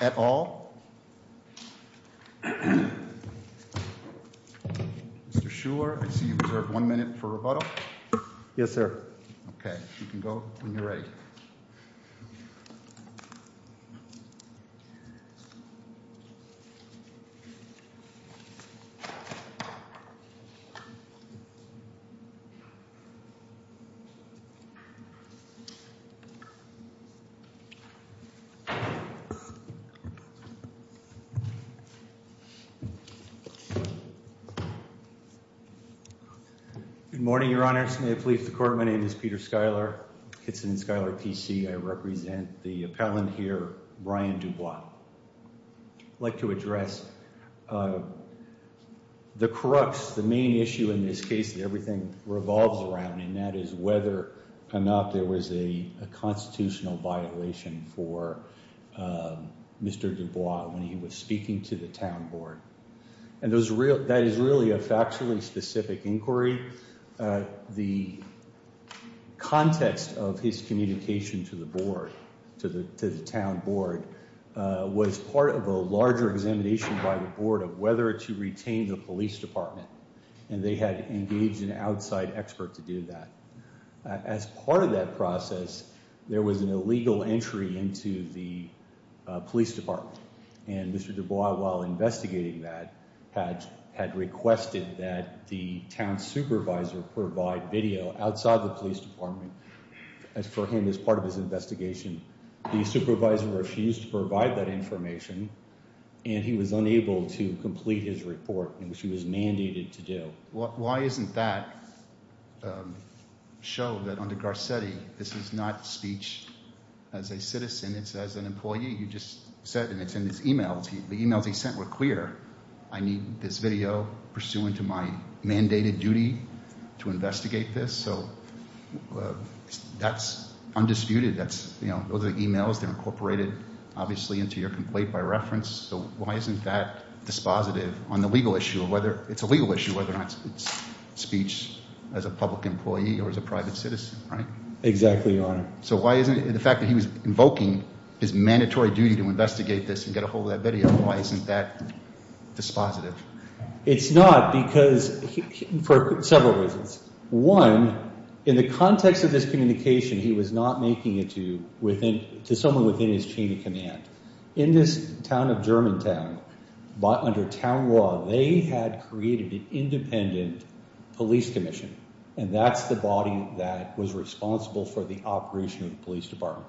et al. Mr. Shuler, I see you reserve one minute for rebuttal. Yes, sir. Okay, you can go when you're ready. Good morning, Your Honors. May it please the Court, my name is Peter Schuyler, Kitson & Schuyler PC. I represent the appellant here, Brian Dubois. I'd like to address the crux, the main issue in this case that everything revolves around, and that is whether or not there was a constitutional violation for Mr. Dubois when he was speaking to the town board. And that is really a factually specific inquiry. The context of his communication to the board, to the town board, was part of a larger examination by the board of whether to retain the police department. And they had engaged an outside expert to do that. As part of that process, there was an illegal entry into the police department. And Mr. Dubois, while investigating that, had requested that the town supervisor provide video outside the police department for him as part of his investigation. The supervisor refused to provide that information, and he was unable to complete his report, which he was mandated to do. Why isn't that show that under Garcetti, this is not speech as a citizen, it's as an employee. You just said, and it's in his emails, the emails he sent were clear. I need this video pursuant to my mandated duty to investigate this. So that's undisputed. That's, you know, those are the emails. They're incorporated, obviously, into your complaint by reference. So why isn't that dispositive on the employee or as a private citizen, right? Exactly, your honor. So why isn't the fact that he was invoking his mandatory duty to investigate this and get a hold of that video, why isn't that dispositive? It's not because, for several reasons. One, in the context of this communication, he was not making it to someone within his chain of command. In this town of Germantown, under town law, they had created an independent police commission, and that's the body that was responsible for the operation of the police department.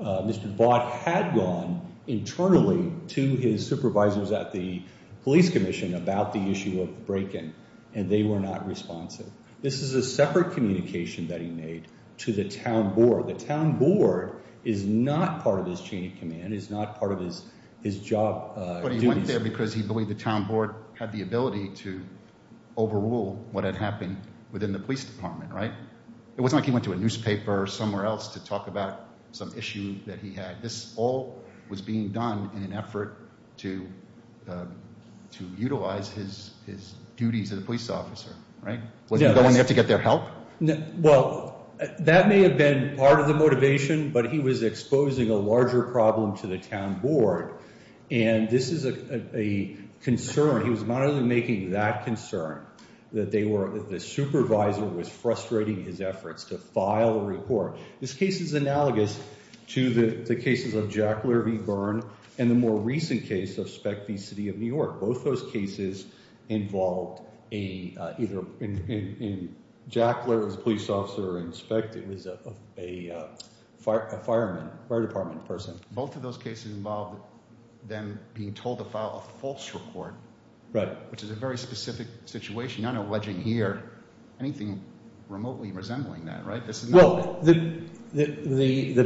Mr. Bott had gone internally to his supervisors at the police commission about the issue of the break-in, and they were not responsive. This is a separate communication that he made to the town board. The town board is not part of his chain of command, is not part of his job. But he went there because he believed the town board had the ability to overrule what had happened within the police department, right? It wasn't like he went to a newspaper or somewhere else to talk about some issue that he had. This all was being done in an effort to utilize his duties as a police officer, right? Was he going there to get their help? Well, that may have been part of the motivation, but he was exposing a larger problem to the town board, and this is a concern. He was not only making that concern, that they were, the supervisor was frustrating his efforts to file a report. This case is analogous to the cases of Jack Lear v. Byrne and the more recent case of Speck v. City of New York. Both those cases involved either Jack Lear, who was a police officer, or Speck, who was a fireman, fire department person. Both of those cases involved them being told to file a false report. Right. Which is a very specific situation, not alleging here anything remotely resembling that, right? Well, the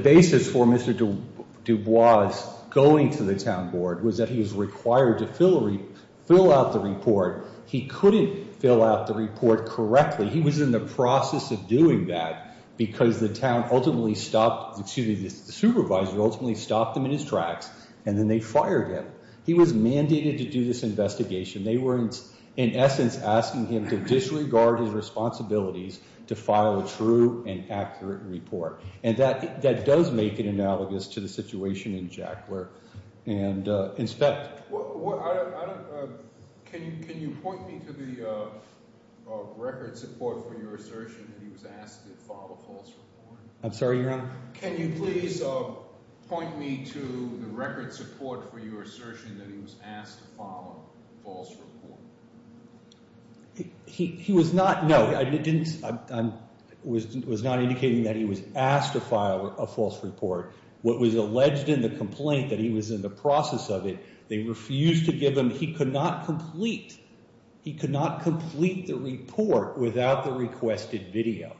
basis for Mr. Dubois going to the town board was that he was required to fill out the report. He couldn't fill out the report correctly. He was in the process of doing that because the town ultimately stopped, excuse me, the supervisor ultimately stopped them in his tracks, and then they fired him. He was mandated to do this investigation. They were, in essence, asking him to disregard his responsibilities to file a true and accurate Jack Lear and inspect. Can you point me to the record support for your assertion that he was asked to file a false report? I'm sorry, your honor? Can you please point me to the record support for your assertion that he was asked to file a false report? He was not, no, I didn't, I was not indicating that he was asked to file a false report. What was alleged in the complaint that he was in the process of it, they refused to give him, he could not complete, he could not complete the report without the requested video,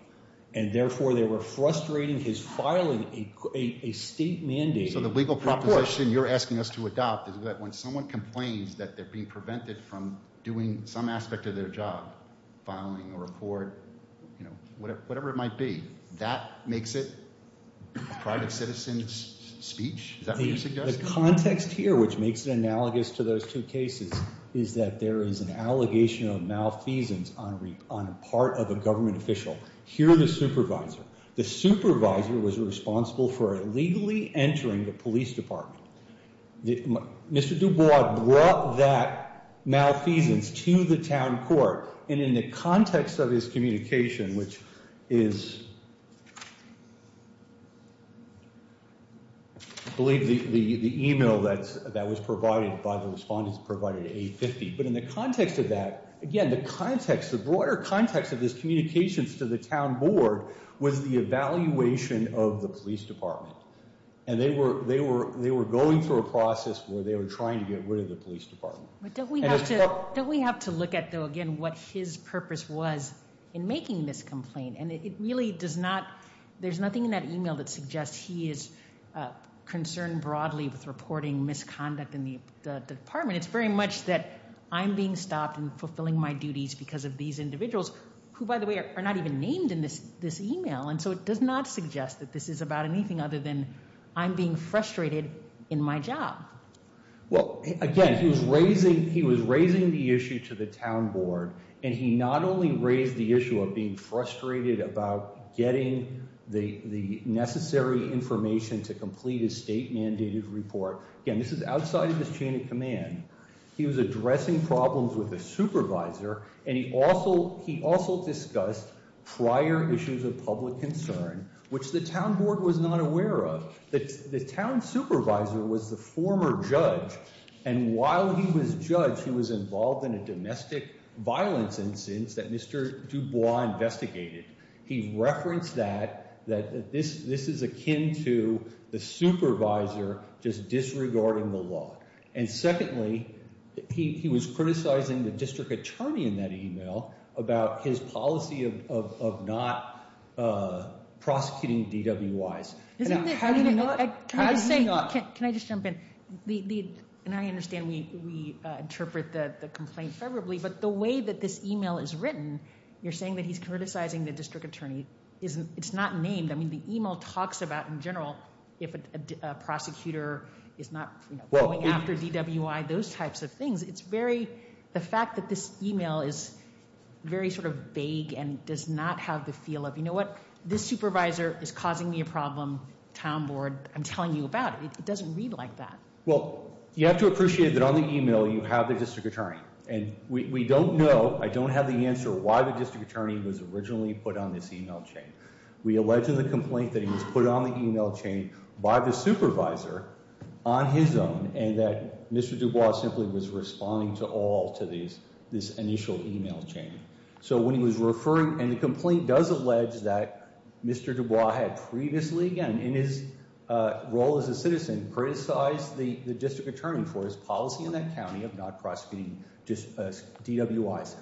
and therefore they were frustrating his filing a state mandate. So the legal proposition you're asking us to adopt is that when someone complains that they're being prevented from doing some aspect of their job, filing a report, you know, whatever it might be, that makes it a private citizen's speech? Is that what you're suggesting? The context here, which makes it analogous to those two cases, is that there is an allegation of malfeasance on a part of a government official, here the supervisor. The supervisor was responsible for illegally entering the police department. Mr. Dubois brought that malfeasance to the town court, and in the context of his communication, which is, I believe the email that was provided by the respondents provided at 850, but in the context of that, again, the context, the broader context of his communications to the town board was the evaluation of the police department, and they were going through a process where they were trying to get rid of the police department. But don't we have to look at, though, again, what his purpose was in making this complaint, and it really does not, there's nothing in that email that suggests he is concerned broadly with reporting misconduct in the department. It's very much that I'm being stopped and fulfilling my duties because of these individuals, who, by the way, are not even named in this email, and so it does not suggest that this is about anything other than I'm being frustrated in my job. Well, again, he was raising the issue to the town board, and he not only raised the issue of being frustrated about getting the necessary information to complete a state-mandated report. Again, this is outside of the chain of command. He was addressing problems with the supervisor, and he also discussed prior issues of public concern, which the town board was not aware of. The town supervisor was the former judge, and while he was judge, he was involved in a domestic violence instance that Mr. Dubois investigated. He referenced that, that this is akin to the supervisor just disregarding the law. And secondly, he was criticizing the district attorney in that email about his policy of not prosecuting DWIs. Can I just jump in? And I understand we interpret the complaint favorably, but the way that this email is written, you're saying that he's criticizing the district attorney. It's not named. I mean, the email talks about, in general, if a prosecutor is not going after DWI, those types of things. It's very, the fact that this email is very sort of vague and does not have the feel of, you know what, this supervisor is causing me a problem. Town board, I'm telling you about it. It doesn't read like that. Well, you have to appreciate that on the email, you have the district attorney. And we don't know, I don't have the answer why the district attorney was originally put on this email chain. We allege in the complaint that he was put on the email chain by the supervisor on his own, and that Mr. Dubois simply was responding to all to this initial email chain. So when he was referring, and the complaint does allege that Mr. Dubois had previously, again, in his role as a citizen, criticized the district attorney for his policy in that county of not prosecuting DWIs.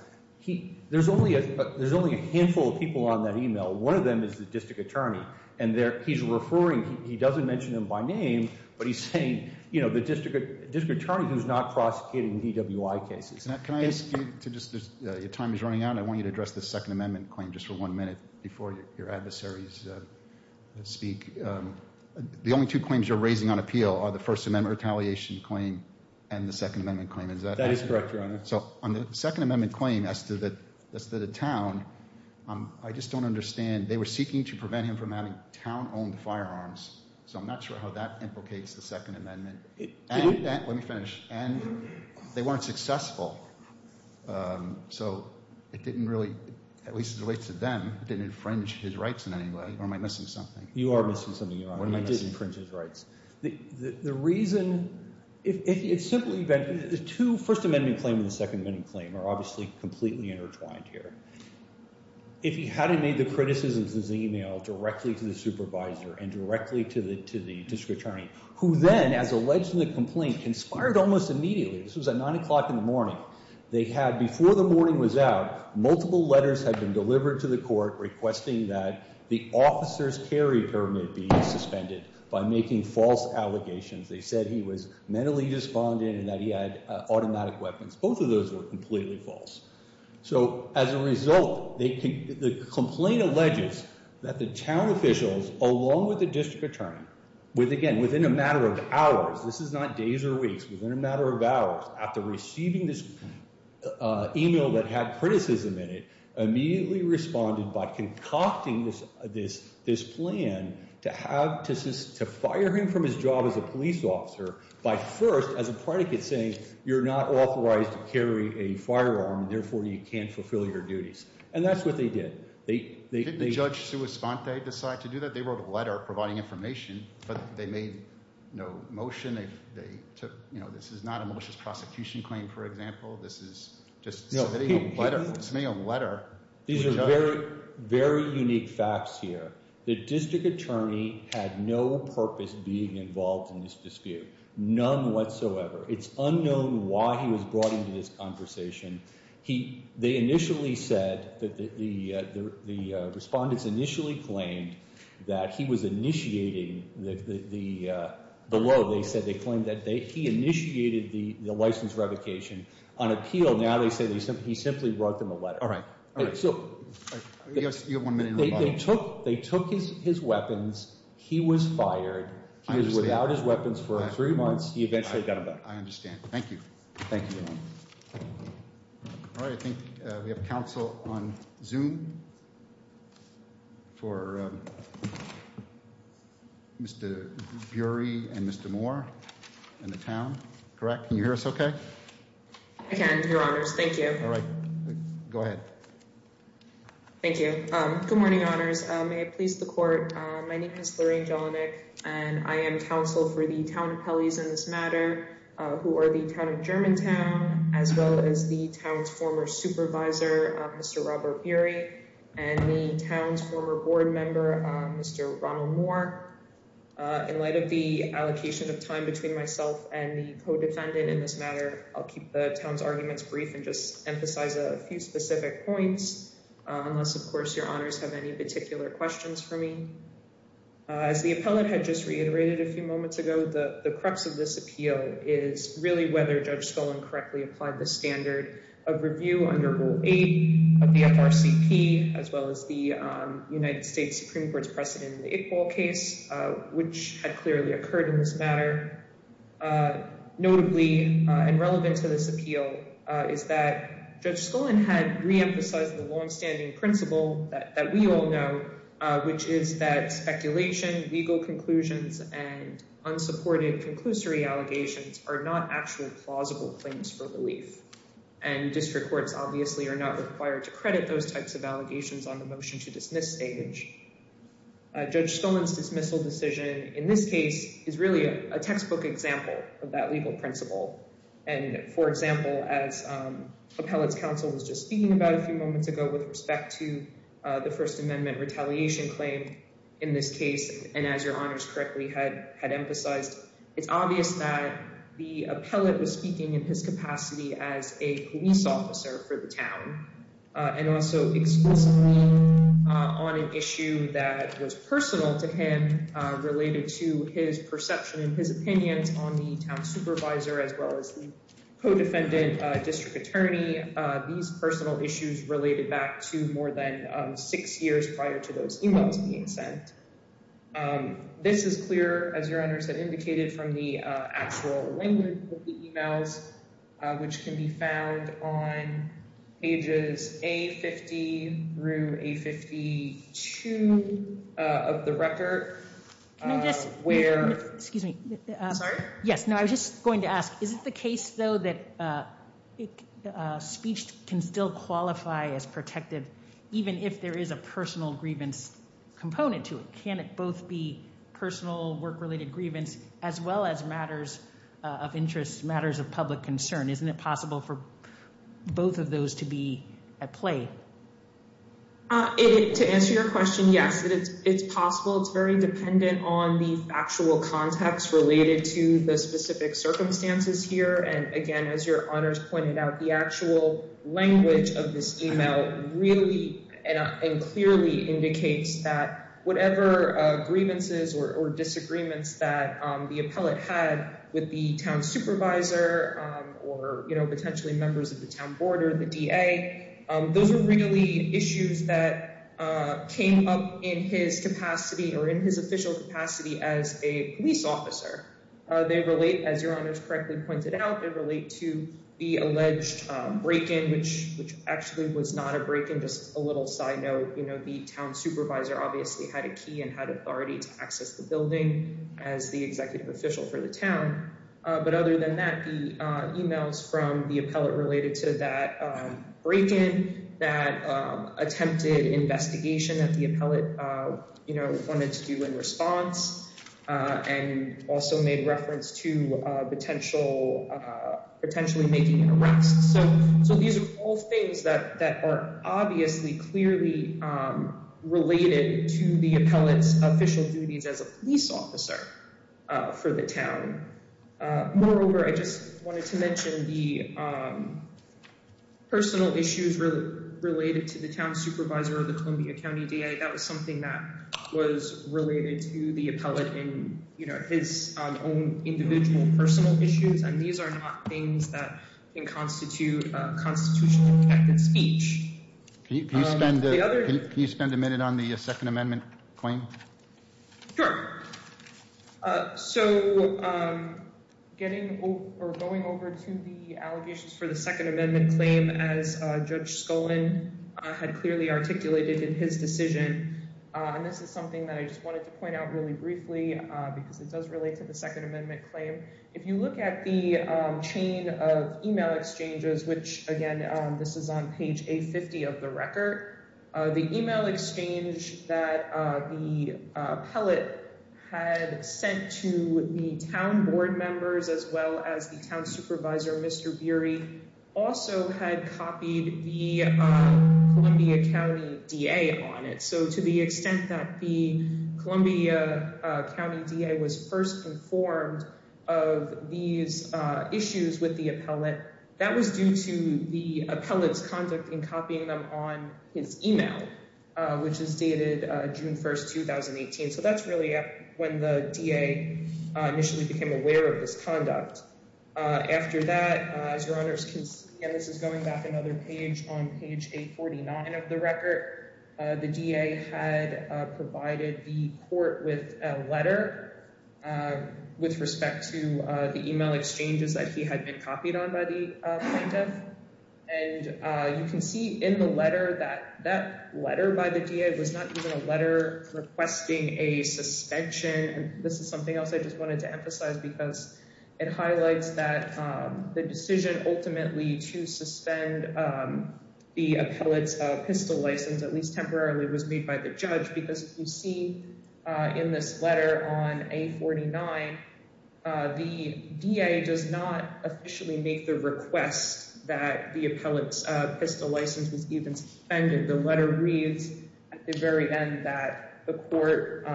There's only a handful of people on that email. One of them is the district attorney, and he's referring, he doesn't mention them by name, but he's saying, you know, the district attorney who's not prosecuting DWI cases. Can I ask you to just, your time is running out, I want you to address the Second Amendment claim just for one minute before your adversaries speak. The only two claims you're raising on appeal are the First Amendment retaliation claim and the Second Amendment claim, is that correct? That is correct, Your Honor. So on the Second Amendment claim as to the town, I just don't understand, they were seeking to prevent him from having town-owned firearms. So I'm not sure how that implicates the Second Amendment. And, let me finish, and they weren't successful. So it didn't really, at least as it relates to them, it didn't infringe his rights in any way, or am I missing something? You are missing something, Your Honor. I didn't infringe his rights. The reason, it's simply that the two First Amendment claim and the Second Amendment claim are obviously completely intertwined here. If he hadn't made the criticisms in his email directly to the supervisor and directly to the district attorney, who then, as alleged in the complaint, conspired almost immediately, this was at nine o'clock in the morning, they had, before the morning was out, multiple letters had been delivered to the court requesting that the officer's carry permit be suspended by making false allegations. They said he was mentally despondent and that he had automatic weapons. Both of those were completely false. So as a result, the complaint alleges that the town officials, along with the district attorney, with again, within a matter of hours, this is not days or weeks, within a matter of hours, after receiving this email that had criticism in it, immediately responded by concocting this plan to fire him from his job as a police officer by first, as a predicate, saying you're not authorized to carry a firearm, therefore you can't decide to do that. They wrote a letter providing information, but they made no motion. This is not a malicious prosecution claim, for example. This is just submitting a letter. These are very unique facts here. The district attorney had no purpose being involved in this dispute, none whatsoever. It's unknown why he was brought into this conversation. They initially said that the respondents initially claimed that he was initiating the below. They said they claimed that he initiated the license revocation. On appeal, now they say he simply wrote them a letter. All right. So you have one minute. They took his weapons. He was fired. He was without his weapons for three months. He eventually got a better. I understand. Thank you. Thank you. All right. I think we have counsel on Zoom for Mr. Burey and Mr. Moore and the town, correct? Can you hear us okay? I can, your honors. Thank you. All right. Go ahead. Thank you. Good morning, honors. May I please the court. My name is Lorraine Jelinek, and I am counsel for the town appellees in this matter who are the town of Germantown, as well as the town's former supervisor, Mr. Robert Burey, and the town's former board member, Mr. Ronald Moore. In light of the allocation of time between myself and the co-defendant in this matter, I'll keep the town's arguments brief and just emphasize a few specific points, unless, of course, your honors have any particular questions for me. As the appellate had just reiterated a few moments ago, the crux of this appeal is really whether Judge Skullin correctly applied the standard of review under Rule 8 of the FRCP, as well as the United States Supreme Court's precedent in the Iqbal case, which had clearly occurred in this matter. Notably, and relevant to this appeal, is that Judge Skullin had re-emphasized the speculation, legal conclusions, and unsupported conclusory allegations are not actual plausible claims for relief, and district courts obviously are not required to credit those types of allegations on the motion to dismiss stage. Judge Skullin's dismissal decision in this case is really a textbook example of that legal principle, and for example, as appellate's counsel was just speaking about a few moments ago with respect to the First Amendment retaliation claim in this case, and as your honors correctly had emphasized, it's obvious that the appellate was speaking in his capacity as a police officer for the town, and also exclusively on an issue that was personal to him related to his perception and his opinions on the town supervisor, as well as the co-defendant district attorney. These personal issues related back to more than six years prior to those emails being sent. This is clear, as your honors have indicated, from the actual language of the emails, which can be found on pages A-50 through A-52 of the record. Can I just, excuse me. Sorry? Yes, no, I was just going to ask, is it the case though that speech can still qualify as protective even if there is a personal grievance component to it? Can it both be personal work-related grievance as well as matters of interest, matters of public concern? Isn't it possible for both of those to be at play? To answer your question, yes, it's possible. It's very dependent on the factual context related to the specific The actual language of this email really and clearly indicates that whatever grievances or disagreements that the appellate had with the town supervisor or potentially members of the town board or the DA, those were really issues that came up in his capacity or in his official capacity as a police officer. They relate, as your honors correctly pointed out, they relate to the alleged break-in, which actually was not a break-in, just a little side note. The town supervisor obviously had a key and had authority to access the building as the executive official for the town. But other than that, the emails from the appellate related to that break-in, that attempted investigation that the appellate wanted to do in response and also made reference to potentially making an arrest. So these are all things that are obviously clearly related to the appellate's official duties as a police officer for the town. Moreover, I just wanted to mention the personal issues related to the town supervisor of the appellate. These are not things that can constitute a constitutionally protected speech. Can you spend a minute on the Second Amendment claim? Sure. So going over to the allegations for the Second Amendment claim as Judge Skollin had clearly articulated in his decision, and this is something that I just wanted to point out really if you look at the chain of email exchanges, which again, this is on page A-50 of the record, the email exchange that the appellate had sent to the town board members as well as the town supervisor, Mr. Beery, also had copied the Columbia County DA on it. So to the extent that the of these issues with the appellate, that was due to the appellate's conduct in copying them on his email, which is dated June 1st, 2018. So that's really when the DA initially became aware of this conduct. After that, as your honors can see, and this is going back another page on page A-49 of the record, the DA had provided the court with a letter with respect to the email exchanges that he had been copied on by the plaintiff. And you can see in the letter that that letter by the DA was not even a letter requesting a suspension. This is something else I just wanted to emphasize because it highlights that the decision ultimately to suspend the appellate's pistol license, at least temporarily, was made by the judge. Because you see in this letter on A-49, the DA does not officially make the request that the appellate's pistol license was even suspended. The letter reads at the very end that the court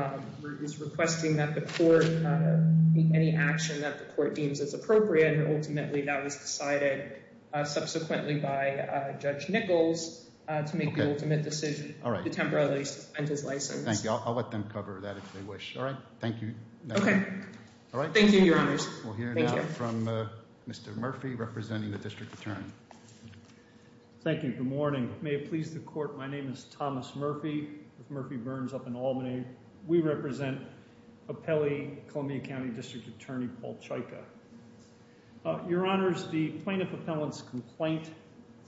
is requesting that the court, any action that the court deems is appropriate, and ultimately that was decided subsequently by Judge Nichols to make the ultimate decision to temporarily suspend his license. Thank you. I'll let them cover that if they wish. All right. Thank you. Okay. All right. Thank you, your honors. We'll hear now from Mr. Murphy representing the district attorney. Thank you. Good morning. May it please the court, my name is Thomas Murphy. Murphy burns up in Albany. We represent appellee Columbia County District Attorney Paul Chyka. Your honors, the plaintiff appellant's complaint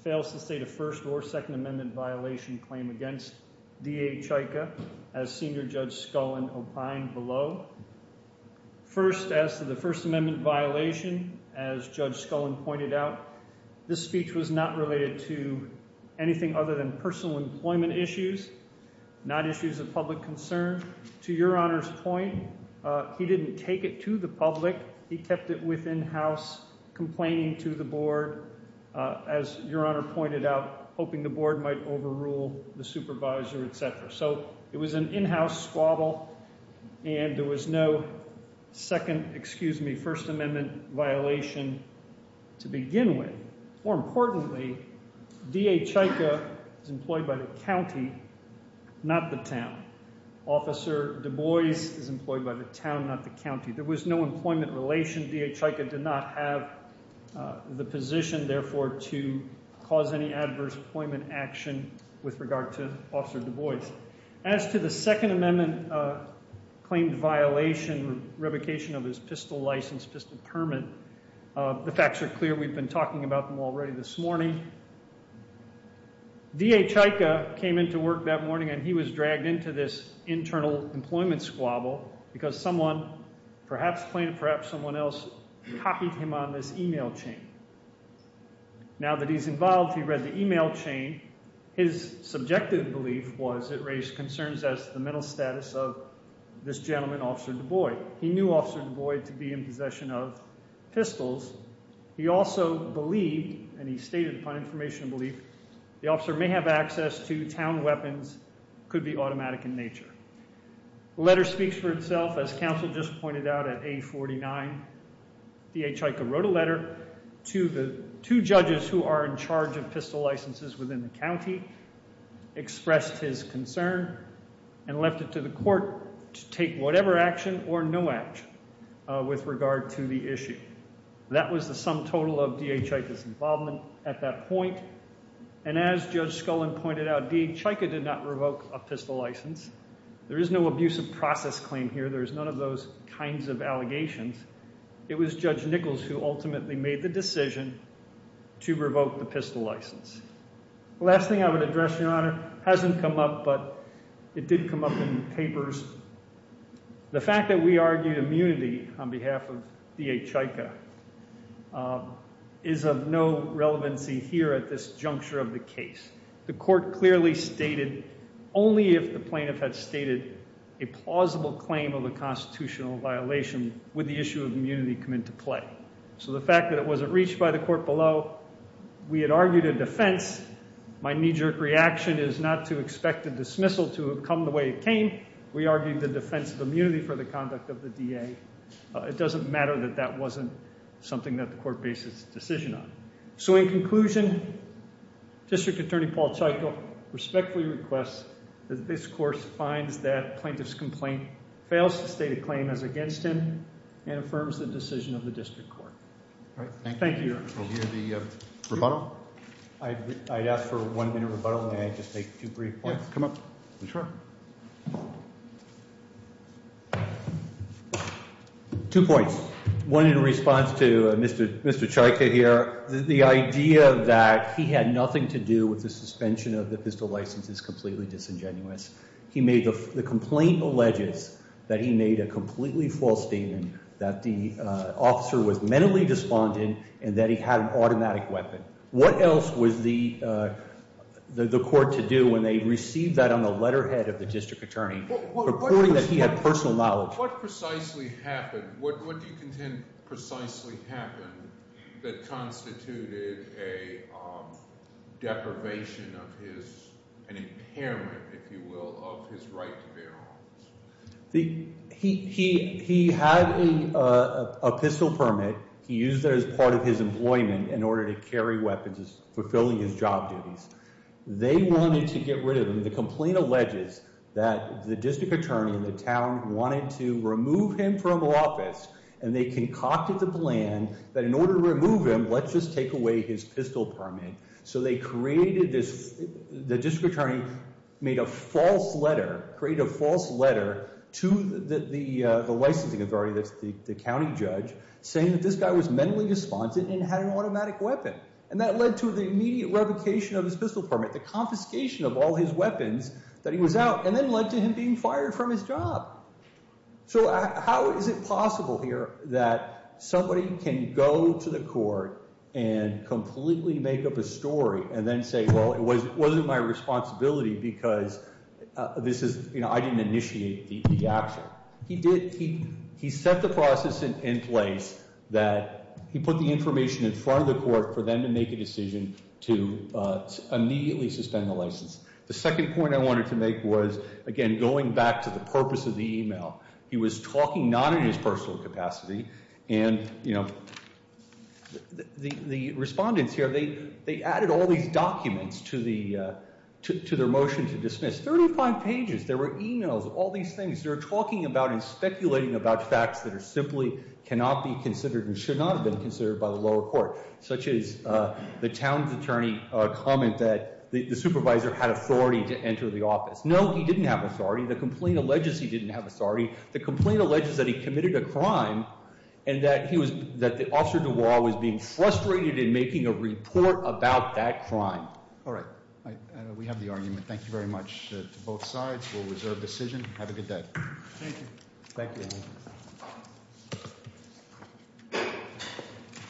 fails to state a first or second amendment violation claim against DA Chyka as Senior Judge Scullin opined below. First, as to the first amendment violation, as Judge Scullin pointed out, this speech was not related to anything other than personal employment issues, not issues of public concern. To your honors' point, he didn't take it to the public. He kept it within house, complaining to the board, as your honor pointed out, hoping the board might overrule the supervisor, etc. So it was an in-house squabble and there was no second, excuse me, first amendment violation to begin with. More importantly, DA Chyka is employed by the county, not the town. Officer Du Bois is employed by the town, not the county. There was no employment relation. DA Chyka did not have the position, therefore, to cause any adverse employment action with regard to Officer Du Bois. As to the second amendment claim violation, revocation of his pistol license, pistol permit, the facts are clear. We've been talking about them already this morning. DA Chyka came into work that morning and he was dragged into this internal employment squabble because someone, perhaps plaintiff, perhaps someone else, copied him on this email chain. Now that he's involved, he read the email chain. His subjective belief was it raised concerns as to the mental status of this gentleman, Officer Du Bois. He knew Officer Du Bois to be in possession of pistols. He also believed, and he stated upon information and belief, the officer may have access to town weapons, could be automatic in nature. The letter speaks for itself. As counsel just pointed out at A49, DA Chyka wrote a letter to the two judges who are in charge of pistol licenses within the county, expressed his concern, and left it to the court to take whatever action or no action with regard to the issue. That was the sum total of DA Chyka's involvement at that point, and as Judge Scullin pointed out, DA Chyka did not revoke a pistol license. There is no process claim here. There's none of those kinds of allegations. It was Judge Nichols who ultimately made the decision to revoke the pistol license. The last thing I would address, Your Honor, hasn't come up, but it did come up in papers. The fact that we argued immunity on behalf of DA Chyka is of no relevancy here at this juncture of the case. The court clearly stated, only if the plaintiff had stated a plausible claim of a constitutional violation would the issue of immunity come into play. So the fact that it wasn't reached by the court below, we had argued a defense. My knee-jerk reaction is not to expect a dismissal to have come the way it came. We argued the defense of immunity for the conduct of the DA. It doesn't matter that that wasn't something that the court based its decision on. So in conclusion, District Attorney Paul Chyka respectfully requests that this court finds that plaintiff's complaint fails to state a claim as against him and affirms the decision of the District Court. Thank you, Your Honor. We'll hear the rebuttal. I'd ask for a one-minute rebuttal, and then I'd just make two brief points. Yeah, come up. Two points. One in response to Mr. Chyka here. The idea that he had nothing to do with the suspension of the pistol license is completely disingenuous. The complaint alleges that he made a completely false statement that the officer was mentally despondent and that he had an automatic weapon. What else was the court to do when they received that on the letterhead of the District Attorney, reporting that he had personal knowledge? What precisely happened? What do you contend precisely happened that constituted a deprivation of his, an impairment, if you will, of his right to bear arms? He had a pistol permit he used as part of his employment in order to carry weapons, fulfilling his job duties. They wanted to get rid of him. The complaint alleges that the District Attorney in the town wanted to remove him from office, and they concocted the plan that in order to remove him, let's just take away his pistol permit. So they created this, the District Attorney made a false letter, created a false letter to the licensing authority, that's the county judge, saying that this guy was mentally despondent and had an automatic weapon. And that led to the immediate revocation of his pistol permit, the confiscation of all his weapons that he was out, and then led to him being fired from his job. So how is it possible here that somebody can go to the court and completely make up a story and then say, well, it wasn't my responsibility because this is, you know, I didn't initiate the action. He did, he set the process in place that he put the information in front of the court for them to make a decision to immediately suspend the license. The second point I wanted to make was, again, going back to the purpose of the email. He was talking not in his personal capacity, and, you know, the respondents here, they added all these documents to their motion to dismiss, 35 pages, there were emails, all these things. They're talking about and speculating about facts that are simply cannot be considered and should not have been considered by the lower court, such as the town's attorney comment that the supervisor had authority to enter the office. No, he didn't have authority. The complaint alleges he didn't have authority. The complaint alleges that he committed a crime and that he was, that the Officer Duval was being frustrated in making a report about that crime. All right, we have the argument. Thank you very much to both sides. We'll reserve decision. Have a good day. Thank you. Thank you.